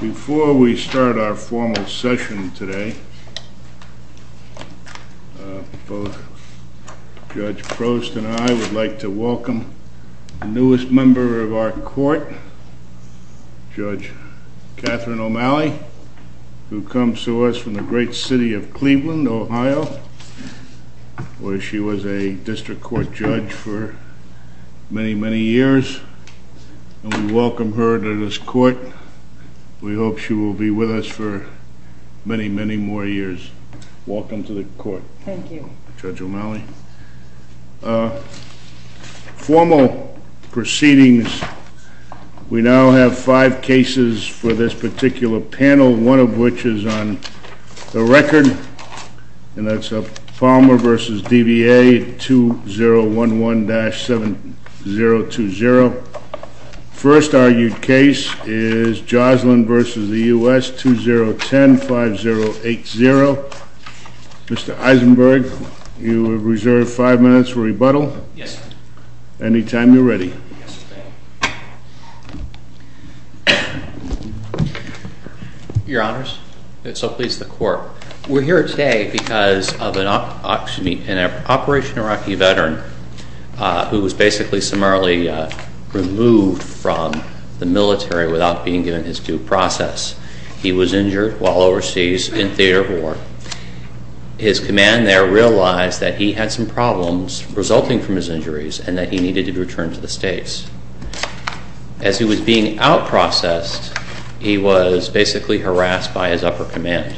Before we start our formal session today, both Judge Prost and I would like to welcome the newest member of our court, Judge Catherine O'Malley, who comes to us from the great city of Cleveland, Ohio, where she was a district court judge for many, many years, and we welcome her to this court. We hope she will be with us for many, many more years. Welcome to the court. Thank you. Judge O'Malley. Formal proceedings, we now have five cases for this particular panel, one of which is on the record, and that's Palmer v. DBA, 2011-7020. First argued case is JOSLYN v. the U.S., 2010-5080. Mr. Eisenberg, you are reserved five minutes for rebuttal. Yes, sir. Anytime you're ready. Your Honors, so please the court. We're here today because of an Operation Iraqi veteran who was basically summarily removed from the military without being given his due process. He was injured while overseas in theater war. His command there realized that he had some problems resulting from his injuries and that he needed to return to the States. As he was being out-processed, he was basically harassed by his upper command.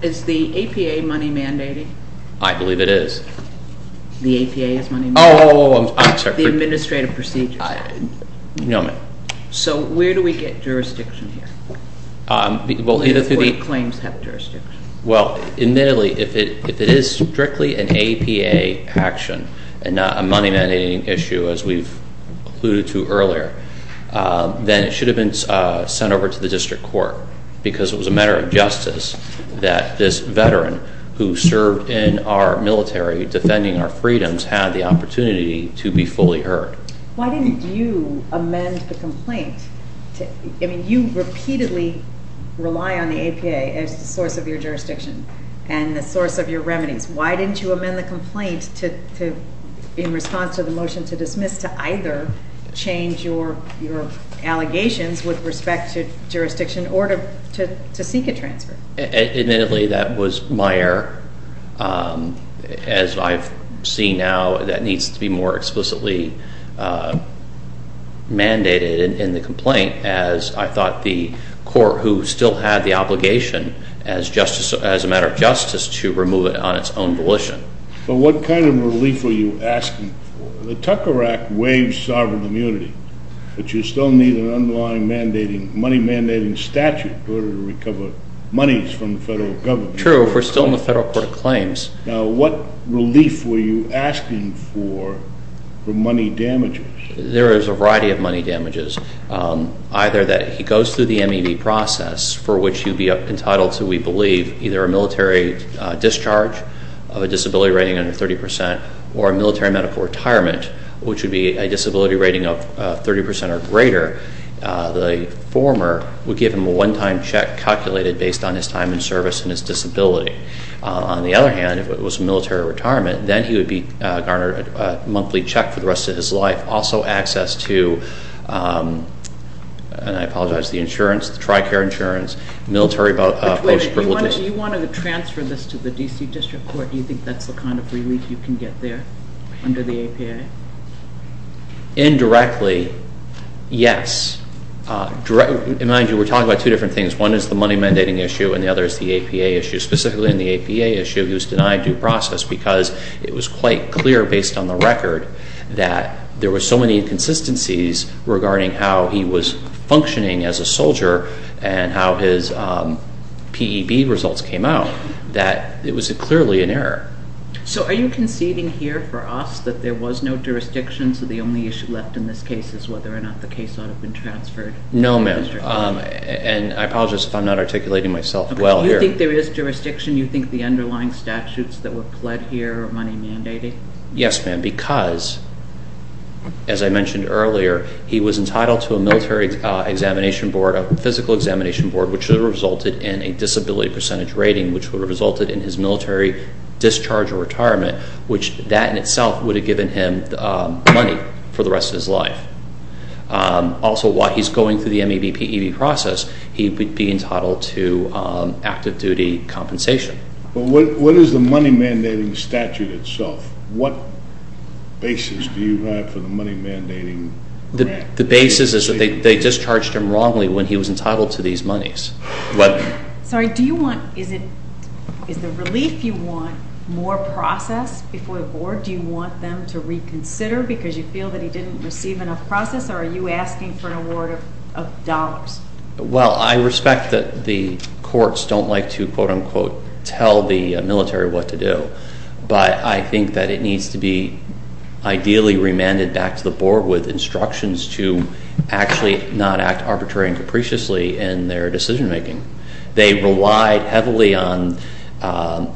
Is the APA money-mandating? I believe it is. The APA is money-mandating? Oh, I'm sorry. The administrative procedures? No, ma'am. So where do we get jurisdiction here? Well, either through the... Do the claims have jurisdiction? Well, admittedly, if it is strictly an APA action and not a money-mandating issue as we've alluded to earlier, then it should have been sent over to the district court because it was a matter of justice that this veteran who served in our military defending our freedoms had the opportunity to be fully heard. Why didn't you amend the complaint? I mean, you repeatedly rely on the APA as the source of your jurisdiction and the source of your remedies. Why didn't you amend the complaint in response to the motion to dismiss to either change your allegations with respect to jurisdiction or to seek a transfer? Admittedly, that was my error. As I've seen now, that needs to be more explicitly mandated in the complaint as I thought the court who still had the obligation as a matter of justice. But what kind of relief were you asking for? The Tucker Act waives sovereign immunity, but you still need an underlying money-mandating statute in order to recover monies from the federal government. True. We're still in the federal court of claims. Now, what relief were you asking for for money damages? There is a variety of money damages, either that he goes through the MED process for which he'd be entitled to, we believe, either a military discharge of a disability rating under 30% or a military medical retirement, which would be a disability rating of 30% or greater. The former would give him a one-time check calculated based on his time in service and his disability. On the other hand, if it was a military retirement, then he would be garnered a monthly check for the rest of his life, also access to, and I apologize, the insurance, the TRICARE insurance, military post-privileged- Do you want to transfer this to the D.C. District Court? Do you think that's the kind of relief you can get there under the APA? Indirectly, yes. Mind you, we're talking about two different things. One is the money-mandating issue and the other is the APA issue. Specifically in the APA issue, he was denied due process because it was quite clear based on the record that there were so many inconsistencies regarding how he was functioning as a soldier and how his results came out that it was clearly an error. So are you conceding here for us that there was no jurisdiction so the only issue left in this case is whether or not the case ought to be transferred? No, ma'am, and I apologize if I'm not articulating myself well here. You think there is jurisdiction? You think the underlying statutes that were pled here are money-mandating? Yes, ma'am, because, as I mentioned earlier, he was entitled to a military examination board, physical examination board, which would have resulted in a disability percentage rating, which would have resulted in his military discharge or retirement, which that in itself would have given him money for the rest of his life. Also, while he's going through the MEBPEB process, he would be entitled to active duty compensation. But what is the money-mandating statute itself? What basis do you have for the money-mandating grant? The basis is that they was entitled to these monies. Sorry, do you want, is it, is the relief you want more process before the board? Do you want them to reconsider because you feel that he didn't receive enough process or are you asking for an award of dollars? Well, I respect that the courts don't like to, quote unquote, tell the military what to do, but I think that it needs to be ideally remanded back to the board with instructions to actually not act arbitrarily and capriciously in their decision making. They relied heavily on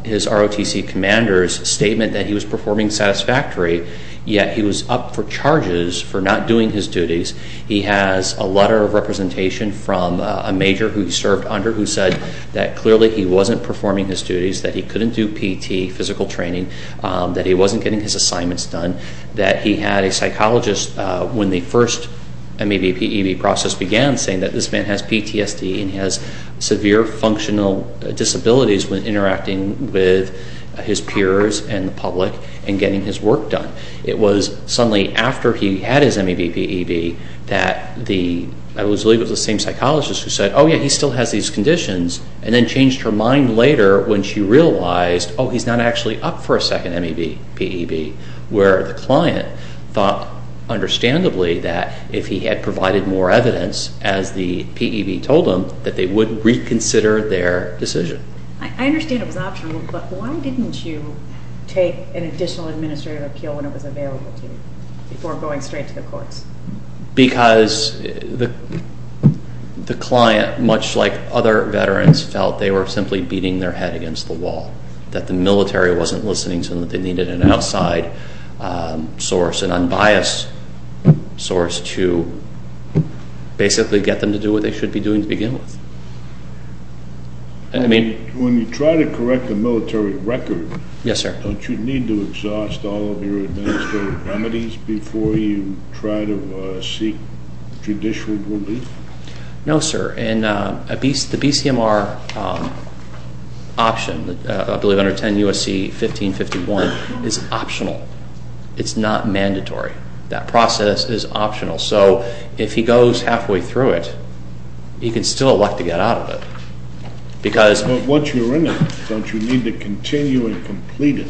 his ROTC commander's statement that he was performing satisfactory, yet he was up for charges for not doing his duties. He has a letter of representation from a major who he served under who said that clearly he wasn't performing his duties, that he couldn't do physical training, that he wasn't getting his assignments done, that he had a psychologist, when the first MEVPEB process began, saying that this man has PTSD and has severe functional disabilities when interacting with his peers and the public and getting his work done. It was suddenly after he had his MEVPEB that the, I believe it was the same psychologist who said, yeah, he still has these conditions and then changed her mind later when she realized, oh, he's not actually up for a second MEVPEB, where the client thought understandably that if he had provided more evidence, as the PEB told him, that they would reconsider their decision. I understand it was optional, but why didn't you take an additional administrative appeal when it was available to you before going straight to the courts? Because the client, much like other veterans, felt they were simply beating their head against the wall, that the military wasn't listening to them, that they needed an outside source, an unbiased source to basically get them to do what they should be doing to begin with. I mean, when you try to correct a military record, don't you need to exhaust all of your remedies before you try to seek judicial relief? No, sir. And the BCMR option, I believe under 10 U.S.C. 1551, is optional. It's not mandatory. That process is optional. So if he goes halfway through it, he can still elect to get out of it. But once you're in it, don't you need to continue and complete it?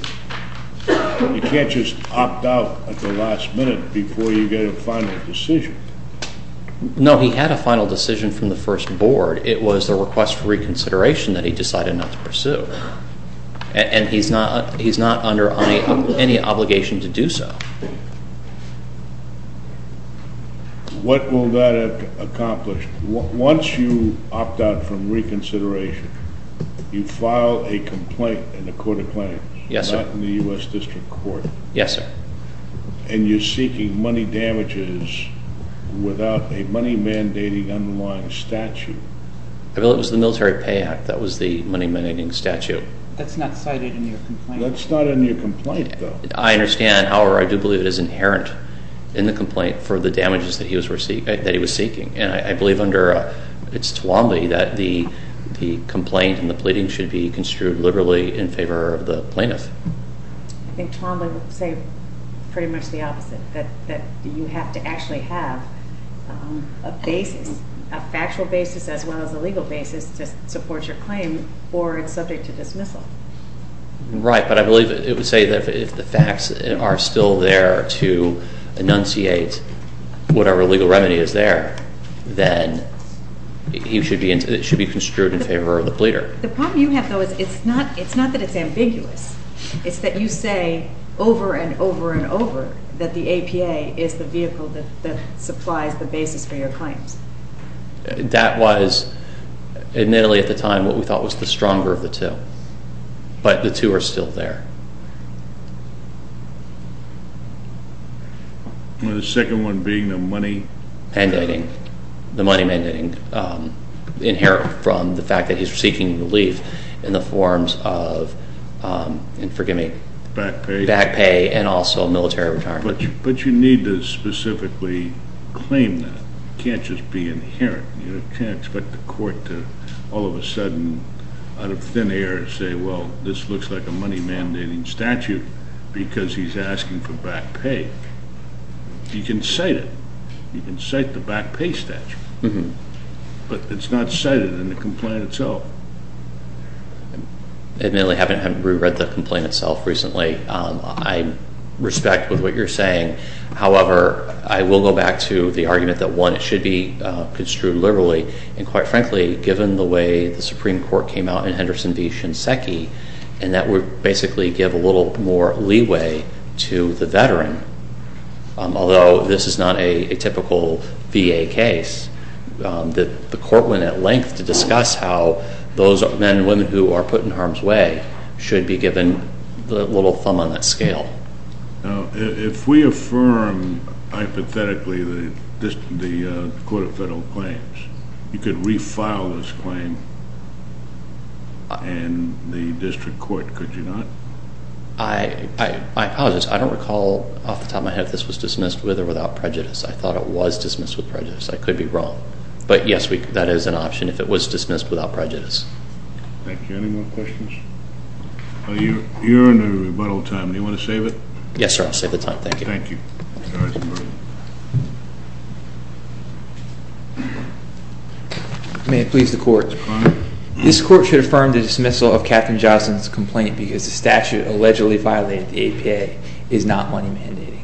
You can't just opt out at the last minute before you get a final decision. No, he had a final decision from the first board. It was a request for reconsideration that he decided not to pursue. And he's not under any obligation to do so. What will that accomplish? Once you opt out from reconsideration, you file a complaint in a court of claims. Yes, sir. Not in the U.S. District Court. Yes, sir. And you're seeking money damages without a money mandating underlying statute. I believe it was the Military Pay Act that was the money mandating statute. That's not cited in your complaint. That's not in your complaint, though. I understand. However, I do believe it is inherent in the complaint for the damages that he was seeking. And I believe it's Tawambly that the complaint and the pleading should be construed liberally in favor of the plaintiff. I think Tawambly would say pretty much the opposite, that you have to actually have a basis, a factual basis as well as a legal basis to support your claim or it's subject to dismissal. Right. But I believe it would say that if the facts are still there to enunciate whatever legal remedy is there, then it should be construed in favor of the pleader. The problem you have, though, is it's not that it's ambiguous. It's that you say over and over and over that the APA is the vehicle that supplies the basis for your claims. That was, admittedly at the time, what we thought was the stronger of the two. But the two are still there. And the second one being the money? Mandating. The money mandating inherent from the fact that he's seeking relief in the forms of, and forgive me. Back pay. Back pay and also military retirement. But you need to specifically claim that. You can't just be inherent. You can't expect the court to, all of a sudden, out of thin air say, well, this looks like a money mandating statute because he's asking for back pay. You can cite it. You can cite the back pay statute. But it's not cited in the complaint itself. Admittedly, I haven't read the complaint itself recently. I respect what you're saying. However, I will go back to the argument that one, it should be construed liberally. And quite frankly, given the way the Supreme Court came out in Henderson v. Shinseki, and that would basically give a little more leeway to the veteran. Although this is not a typical VA case. The court went at length to discuss how those men and women who are put in harm's way should be given a little thumb on that scale. Now, if we affirm, hypothetically, the Court of Federal Claims, you could refile this claim in the district court, could you not? I apologize. I don't recall off the top of my head if this was dismissed with or without prejudice. I thought it was dismissed with prejudice. I could be wrong. But yes, that is an option if it was dismissed without prejudice. Thank you. Any more time? Do you want to save it? Yes, sir. I'll save the time. Thank you. May it please the court. This court should affirm the dismissal of Captain Johnson's complaint because the statute allegedly violated the APA is not money mandating.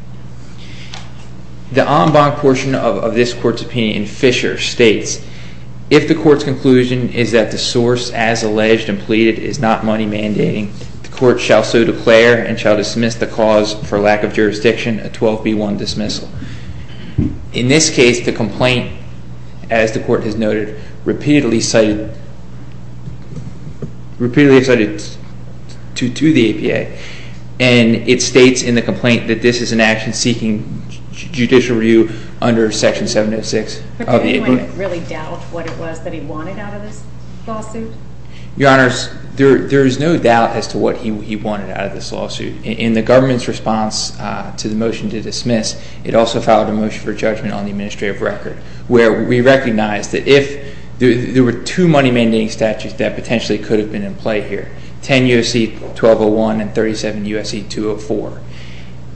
The en banc portion of this court's opinion in Fisher states, if the court's conclusion is that the source as alleged and pleaded is not money mandating, the court shall so declare and shall dismiss the cause for lack of jurisdiction, a 12B1 dismissal. In this case, the complaint, as the court has noted, repeatedly cited to the APA. And it states in the complaint that this is an action seeking judicial review under Section 706. Does the plaintiff really doubt what it was that he wanted out of this lawsuit? Your Honor, there is no doubt as to what he wanted out of this lawsuit. In the government's response to the motion to dismiss, it also followed a motion for judgment on the administrative record where we recognized that if there were two money mandating statutes that potentially could have been in play here, 10 U.S.C. 1201 and 37 U.S.C. 204.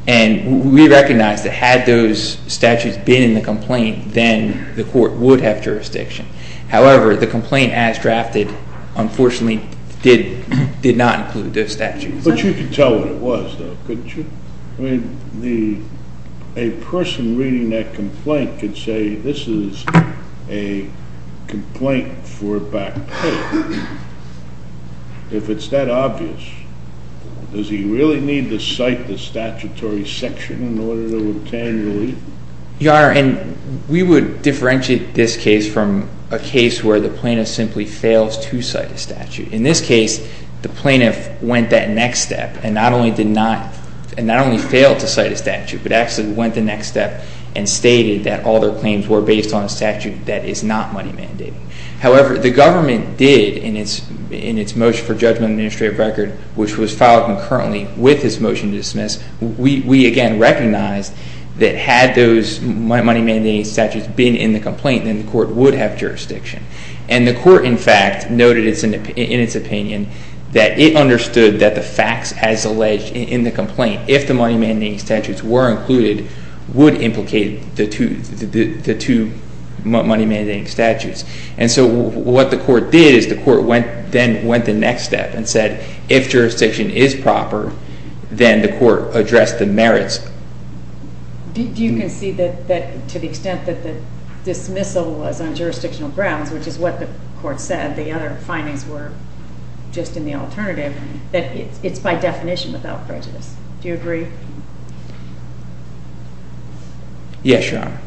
And we recognized that had those statutes been in the complaint, then the court would have jurisdiction. However, the complaint as drafted unfortunately did not include those statutes. But you could tell what it was, though, couldn't you? I mean, a person reading that complaint could say this is a complaint for back pay. If it's that obvious, does he really need to cite the statutory section in order to obtain relief? Your Honor, and we would differentiate this case from a case where the plaintiff simply fails to cite a statute. In this case, the plaintiff went that next step and not only did not, and not only failed to cite a statute, but actually went the next step and stated that all their claims were based on a statute that is not money mandating. However, the government did in its motion for judgment on the administrative record, which was filed concurrently with his motion to dismiss, we again recognized that had those money mandating statutes been in the complaint, then the court would have jurisdiction. And the court, in fact, noted in its opinion that it understood that the facts as alleged in the complaint, if the money mandating statutes were included, would implicate the two money mandating statutes. And so what the court did is the court then went the next step and said if jurisdiction is proper, then the court addressed the merits. Do you concede that to the extent that the dismissal was on jurisdictional grounds, which is what the court said, the other findings were just in the alternative, that it's by definition without prejudice? Do you agree? Yes, Your Honor.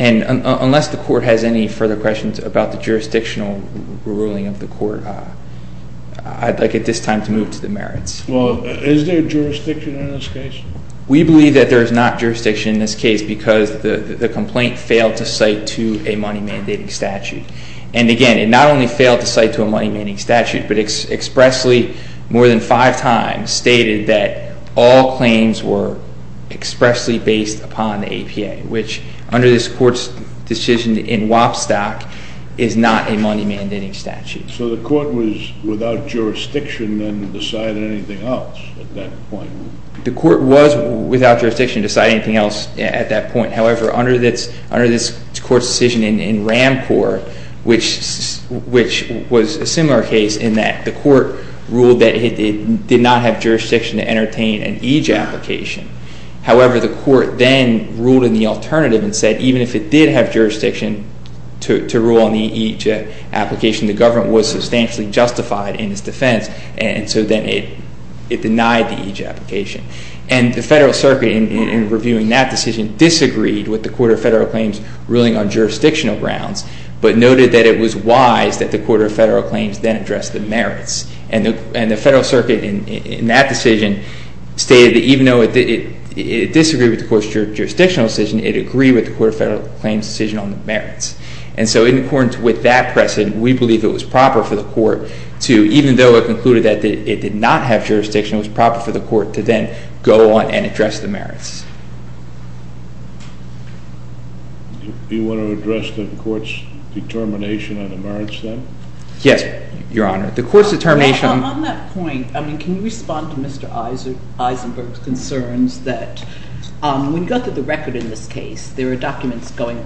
And unless the court has any further questions about the jurisdictional ruling of the court, I'd like at this time to move to the merits. Well, is there jurisdiction in this case? We believe that there is not jurisdiction in this case because the complaint failed to cite to a money mandating statute. And again, it not only failed to cite to a money mandating statute, but expressly more than five times stated that all claims were expressly based upon the APA, which under this court's decision in Wapstock is not a money mandating statute. So the court was without jurisdiction and decided anything else at that point? The court was without jurisdiction, deciding anything else at that point. However, under this court's decision in Ramcorp, which was a similar case in that the court ruled that it did not have jurisdiction to entertain an EJ application. However, the court then ruled in the alternative and said even if it did have jurisdiction to rule on the EJ application, the government was substantially justified in its defense. And so then it denied the EJ application. And the Federal Circuit, in reviewing that decision, disagreed with the Court of Federal Claims ruling on jurisdictional grounds, but noted that it was wise that the Court of Federal Claims then address the merits. And the Federal Circuit in that decision stated that even though it disagreed with the court's jurisdictional decision, it agreed with the Court of Federal Claims decision on the merits. And so in accordance with that precedent, we believe it was proper for the court to, even though it concluded that it did not have jurisdiction, it was proper for the court to then go on and address the merits. Do you want to address the court's determination on the merits, then? Yes, Your Honor. The court's determination... Well, on that point, I mean, can you respond to Mr. Eisenberg's concerns that when you go through the record in this case, there are documents going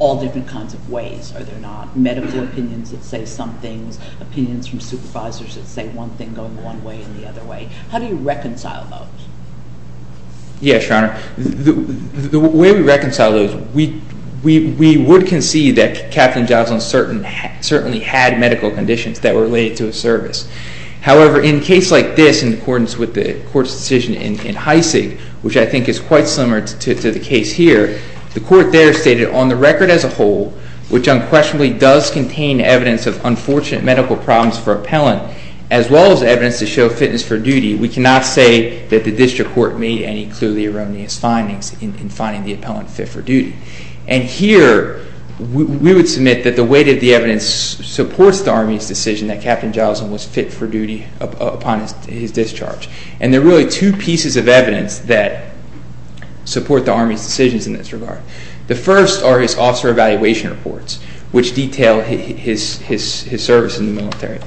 all different kinds of ways, are there not? Medical opinions that say some things, opinions from supervisors that say one thing going one way and the other way. How do you reconcile those? Yes, Your Honor. The way we reconcile those, we would concede that Captain Joslyn certainly had medical conditions that were related to a service. However, in a case like this, in accordance with the court's decision in Heisig, which I think is quite similar to the case here, the court there stated, on the record as a whole, which unquestionably does contain evidence of unfortunate medical problems for appellant, as well as evidence to show fitness for duty, we cannot say that the district court made any clearly erroneous findings in finding the appellant fit for duty. And here, we would submit that the weight of the evidence supports the Army's decision that Captain Joslyn was fit for duty upon his discharge. And there are really two pieces of evidence that support the Army's decisions in this regard. The first are his officer evaluation reports, which detail his service in the military.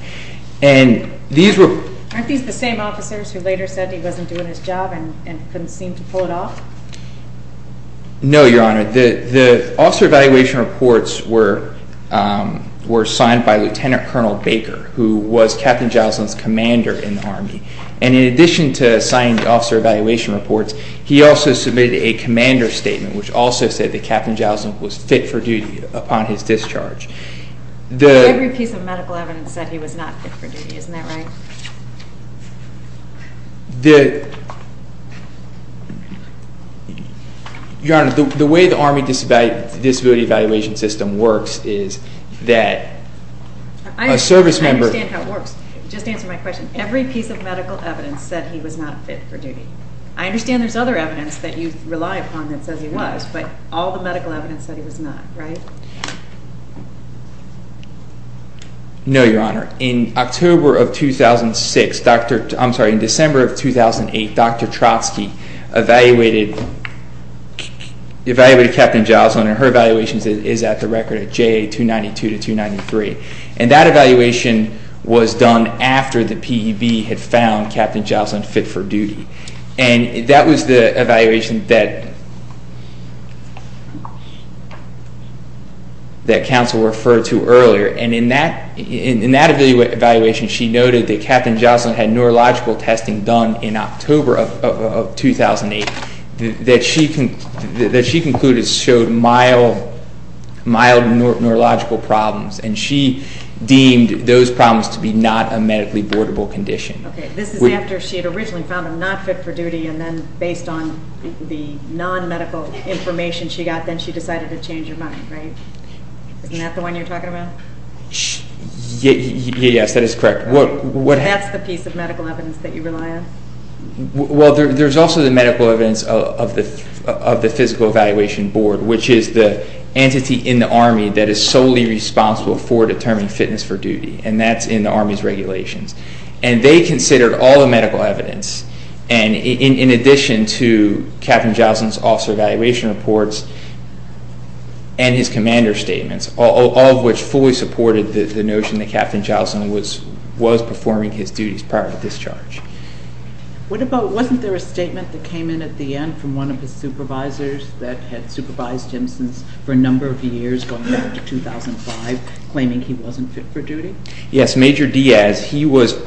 And these were... Were there any officers who later said he wasn't doing his job and couldn't seem to pull it off? No, Your Honor. The officer evaluation reports were signed by Lieutenant Colonel Baker, who was Captain Joslyn's commander in the Army. And in addition to signing the officer evaluation reports, he also submitted a commander statement, which also said that Captain Joslyn was fit for duty upon his discharge. Every piece of medical evidence said he was not fit for duty. Isn't that right? The... Your Honor, the way the Army disability evaluation system works is that a service member... I understand how it works. Just answer my question. Every piece of medical evidence said he was not fit for duty. I understand there's other evidence that you rely upon that says he was, but all the medical evidence said he was not, right? No, Your Honor. In October of 2006, Dr... I'm sorry, in December of 2008, Dr. Trotsky evaluated Captain Joslyn, and her evaluation is at the record at JA 292 to 293. And that evaluation was done after the PEB had found Captain Joslyn fit for duty. And that was the evaluation that... that counsel referred to earlier. And in that evaluation, she noted that Captain Joslyn had neurological testing done in October of 2008 that she concluded showed mild neurological problems, and she deemed those problems to be not a medically boardable condition. Okay, this is after she had originally found him not fit for duty, and then based on the non-medical information she got, she decided to change her mind, right? Isn't that the one you're talking about? Yes, that is correct. What... That's the piece of medical evidence that you rely on? Well, there's also the medical evidence of the physical evaluation board, which is the entity in the Army that is solely responsible for determining fitness for duty, and that's in the Army's regulations. And they considered all the medical evidence, and in addition to Captain Joslyn's officer evaluation reports and his commander statements, all of which fully supported the notion that Captain Joslyn was performing his duties prior to discharge. What about... Wasn't there a statement that came in at the end from one of his supervisors that had supervised him for a number of years going into 2005, claiming he wasn't fit for duty? Yes, Major Diaz, he was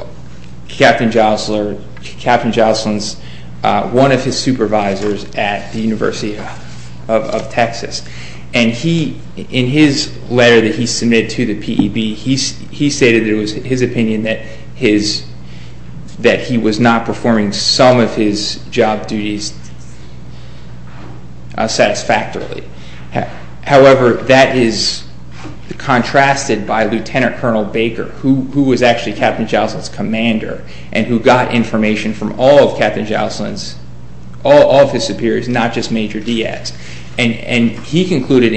Captain Joslyn's... One of his supervisors at the University of Texas. And he, in his letter that he submitted to the P.E.B., he stated that it was his opinion that he was not performing some of his job duties satisfactorily. However, that is contrasted by Lieutenant Colonel Baker, who was actually Captain Joslyn's commander and who got information from all of Captain Joslyn's... All of his superiors, not just Major Diaz. And he concluded,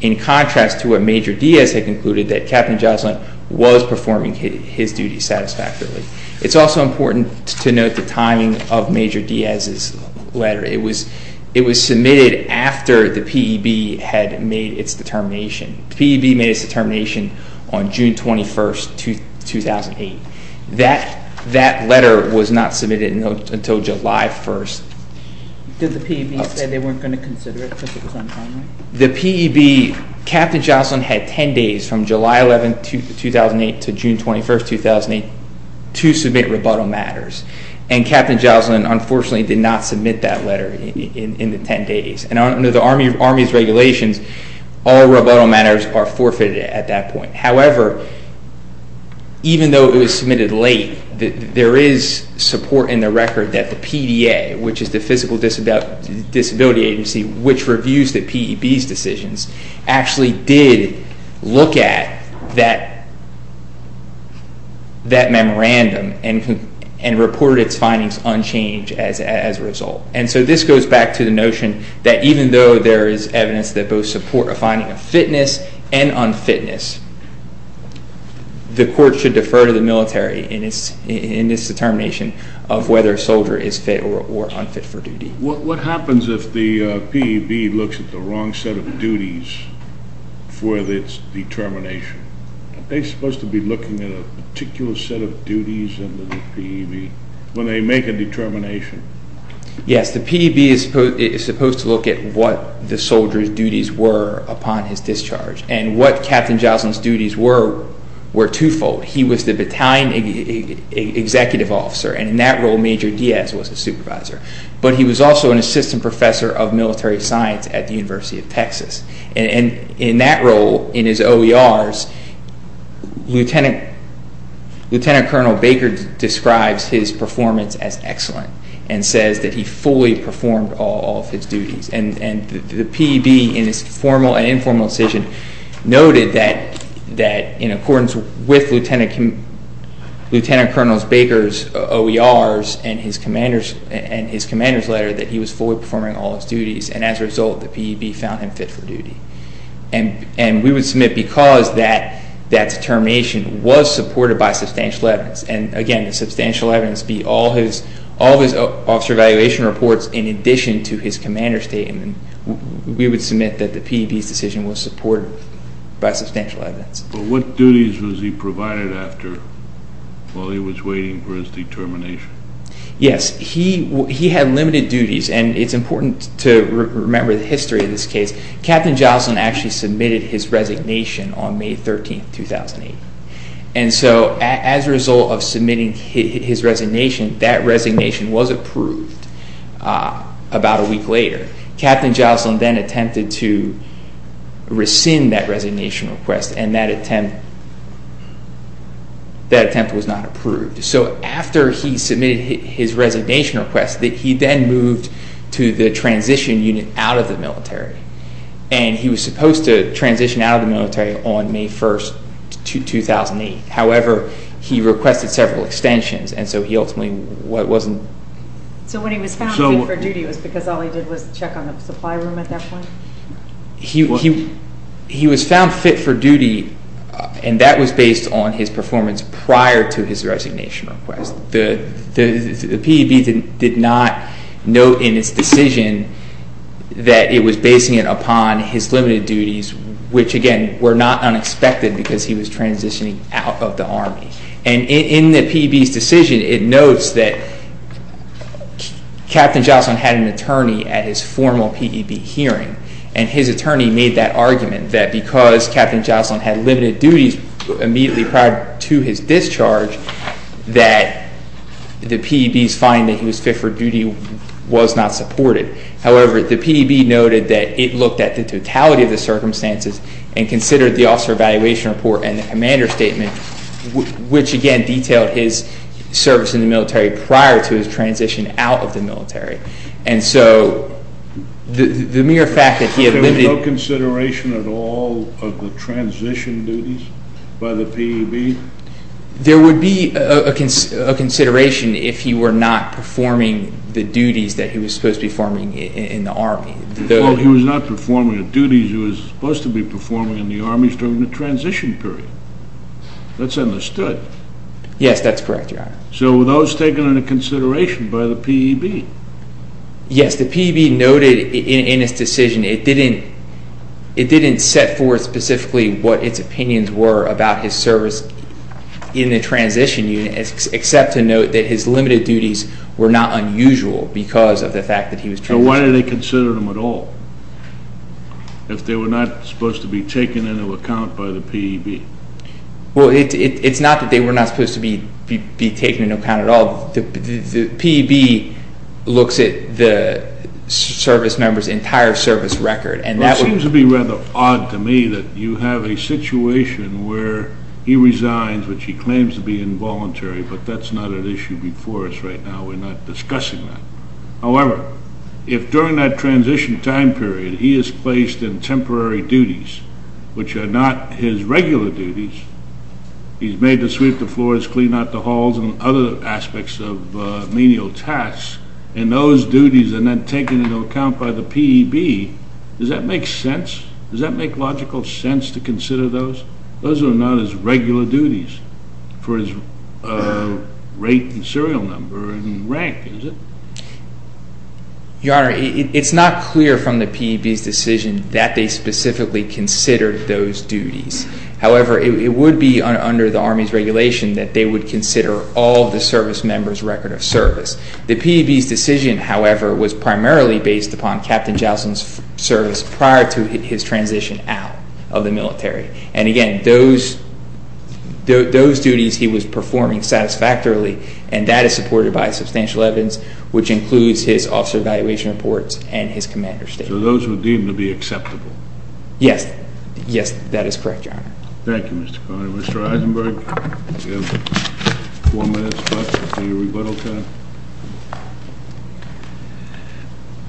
in contrast to what Major Diaz had concluded, that Captain Joslyn was performing his duties satisfactorily. It's also important to note the timing of Major Diaz's letter. It was made his determination on June 21st, 2008. That letter was not submitted until July 1st. Did the P.E.B. say they weren't going to consider it because it was on time? The P.E.B., Captain Joslyn had 10 days from July 11th, 2008 to June 21st, 2008 to submit rebuttal matters. And Captain Joslyn, unfortunately, did not submit that letter in the 10 days. And under the Army's regulations, all rebuttal matters are forfeited at that point. However, even though it was submitted late, there is support in the record that the PDA, which is the Physical Disability Agency, which reviews the P.E.B.'s decisions, actually did look at that memorandum and reported its findings unchanged as a result. And so, this goes back to the notion that even though there is evidence that both support a finding of fitness and unfitness, the court should defer to the military in its determination of whether a soldier is fit or unfit for duty. What happens if the P.E.B. looks at the wrong set of duties for its determination? Are they supposed to be looking at a particular set of duties under the P.E.B. when they make a determination? Yes, the P.E.B. is supposed to look at what the soldier's duties were upon his discharge. And what Captain Joslyn's duties were were twofold. He was the battalion executive officer, and in that role, Major Diaz was a And in that role, in his OERs, Lieutenant Colonel Baker describes his performance as excellent, and says that he fully performed all of his duties. And the P.E.B. in its formal and informal decision noted that in accordance with Lieutenant Colonel Baker's OERs and his commander's letter, that he was fully performing all his duties, and as a result, the P.E.B. found him fit for duty. And we would submit because that determination was supported by substantial evidence, and again, the substantial evidence be all his officer evaluation reports in addition to his commander's statement, we would submit that the P.E.B.'s decision was supported by substantial evidence. But what duties was he provided after while he was waiting for his determination? Yes, he had limited duties, and it's important to remember the history of this case. Captain Joslyn actually submitted his resignation on May 13, 2008, and so as a result of submitting his resignation, that resignation was approved about a week later. Captain Joslyn then attempted to rescind that resignation request, and that attempt was not approved. So after he submitted his resignation request, he then moved to the transition unit out of the military, and he was supposed to transition out of the military on May 1st, 2008. However, he requested several extensions, and so he ultimately wasn't... So when he was found fit for duty, it was because all he did was check on the supply room at that and that was based on his performance prior to his resignation request. The P.E.B. did not note in its decision that it was basing it upon his limited duties, which again, were not unexpected because he was transitioning out of the army. And in the P.E.B.'s decision, it notes that Captain Joslyn had an attorney at his formal P.E.B. hearing, and his attorney made that argument that because Captain Joslyn had limited duties immediately prior to his discharge, that the P.E.B.'s finding that he was fit for duty was not supported. However, the P.E.B. noted that it looked at the totality of the circumstances and considered the officer evaluation report and the commander statement, which again, detailed his service in the military prior to his transition out of the military. And so the mere fact that he had limited... There was no consideration at all of the transition duties by the P.E.B.? There would be a consideration if he were not performing the duties that he was supposed to be performing in the army. He was not performing the duties he was supposed to be performing in the army during the transition period. That's understood. Yes, that's correct, Your Honor. So were those taken into consideration by the P.E.B.? Yes, the P.E.B. noted in his decision, it didn't set forth specifically what its opinions were about his service in the transition unit, except to note that his limited duties were not unusual because of the fact that he was... So why did they consider them at all, if they were not supposed to be taken into account by the P.E.B.? Well, it's not that they were not supposed to be taken into account at all. The P.E.B. looks at the service member's entire service record, and that... It seems to be rather odd to me that you have a situation where he resigns, which he claims to be involuntary, but that's not an issue before us right now. We're not discussing that. However, if during that transition time period, he is placed in temporary duties, which are not his regular duties, he's made to sweep the floors, clean out the halls, and other aspects of menial tasks, and those duties are then taken into account by the P.E.B., does that make sense? Does that make logical sense to consider those? Those are not his regular duties for his rate and serial number and rank, is it? Your Honor, it's not clear from the P.E.B.'s decision that they specifically considered those duties. However, it would be under the Army's regulation that they would consider all the service member's record of service. The P.E.B.'s decision, however, was primarily based upon Captain Jowson's service prior to his transition out of the military. And again, those duties he was performing satisfactorily, and that is supported by substantial evidence, which includes his officer evaluation reports and his commander's statement. So those would deem to be acceptable? Yes. Yes, that is correct, Your Honor. Thank you, Mr. Conner. Mr. Eisenberg, you have four minutes left for your rebuttal time.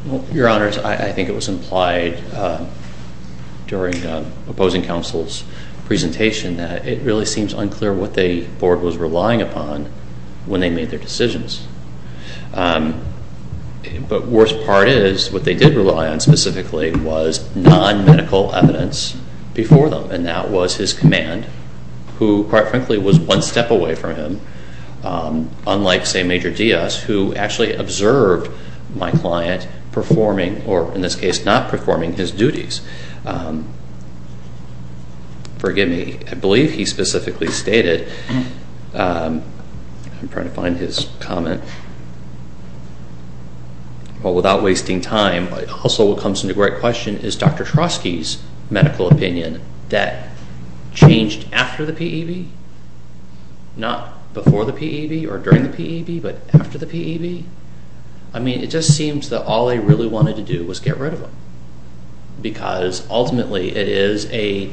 Well, Your Honors, I think it was implied during the opposing counsel's presentation that it really seems unclear what the Board was relying upon when they made their decisions. But worst part is what they did rely on specifically was non-medical evidence before them, and that was his command, who, quite frankly, was one step away from him, unlike, say, Major Diaz, who actually observed my client performing or, in this case, not performing his duties. Forgive me. I believe he specifically stated, I'm trying to find his comment, well, without wasting time, also what comes into great question is Dr. Trotsky's medical opinion that changed after the P.E.B., not before the P.E.B. or during the P.E.B., but after the P.E.B.? I mean, it just seems that all they really wanted to do was get rid of him because, ultimately, it is a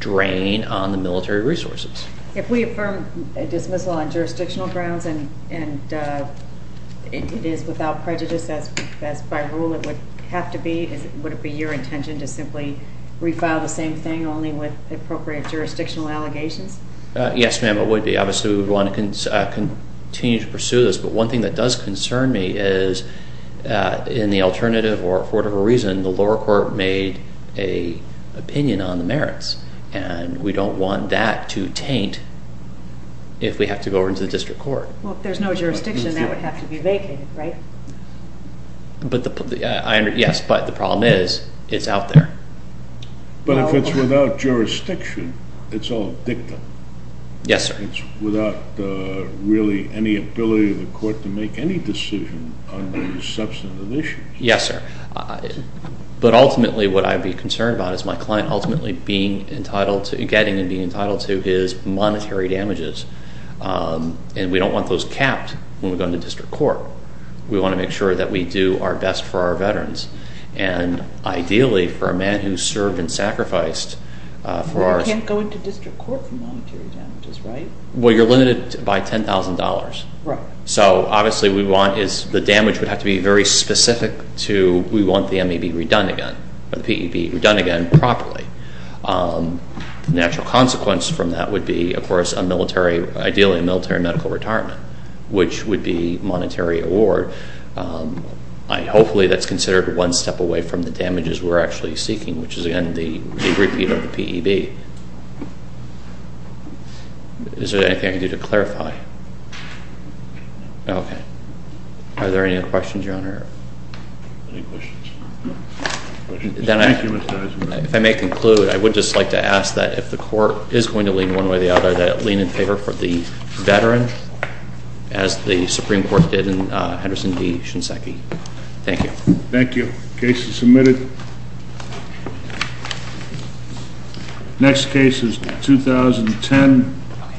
drain on the military resources. If we affirm a dismissal on jurisdictional grounds and it is without prejudice, as by rule it would have to be, would it be your intention to simply refile the same thing only with appropriate jurisdictional allegations? Yes, ma'am, it would be. Obviously, we would want to continue to pursue this, but one thing that does concern me is, in the alternative or for whatever reason, the lower court made an opinion on the merits, and we don't want that to taint if we have to go into the district court. Well, if there's no jurisdiction, that would have to be vacated, right? Yes, but the problem is, it's out there. But if it's without jurisdiction, it's all dictum. Yes, sir. It's without really any ability of the court to make any decision on these substantive issues. Yes, sir. But ultimately, what I'd be concerned about is my client ultimately getting and being entitled to his monetary damages, and we don't want those capped when we go into district court. We want to make sure that we do our best for our veterans, and ideally, for a man who's served and sacrificed for our... But you can't go into district court for monetary damages, right? Well, you're limited by $10,000. Right. So obviously, we want, the damage would have to be very specific to, we want the MEB redone again, or the PEB redone again properly. The natural consequence from that would be, of course, a military, ideally a military medical retirement, which would be monetary award. Hopefully, that's considered one step away from the damages we're actually seeking, which is, again, the repeat of the PEB. Is there anything I can do to clarify? Okay. Are there any other questions, Your Honor? Any questions? If I may conclude, I would just like to ask that if the court is going to lean one way or the other, lean in favor for the veteran, as the Supreme Court did in Henderson v. Shinseki. Thank you. Thank you. Case is submitted. Next case is 2010.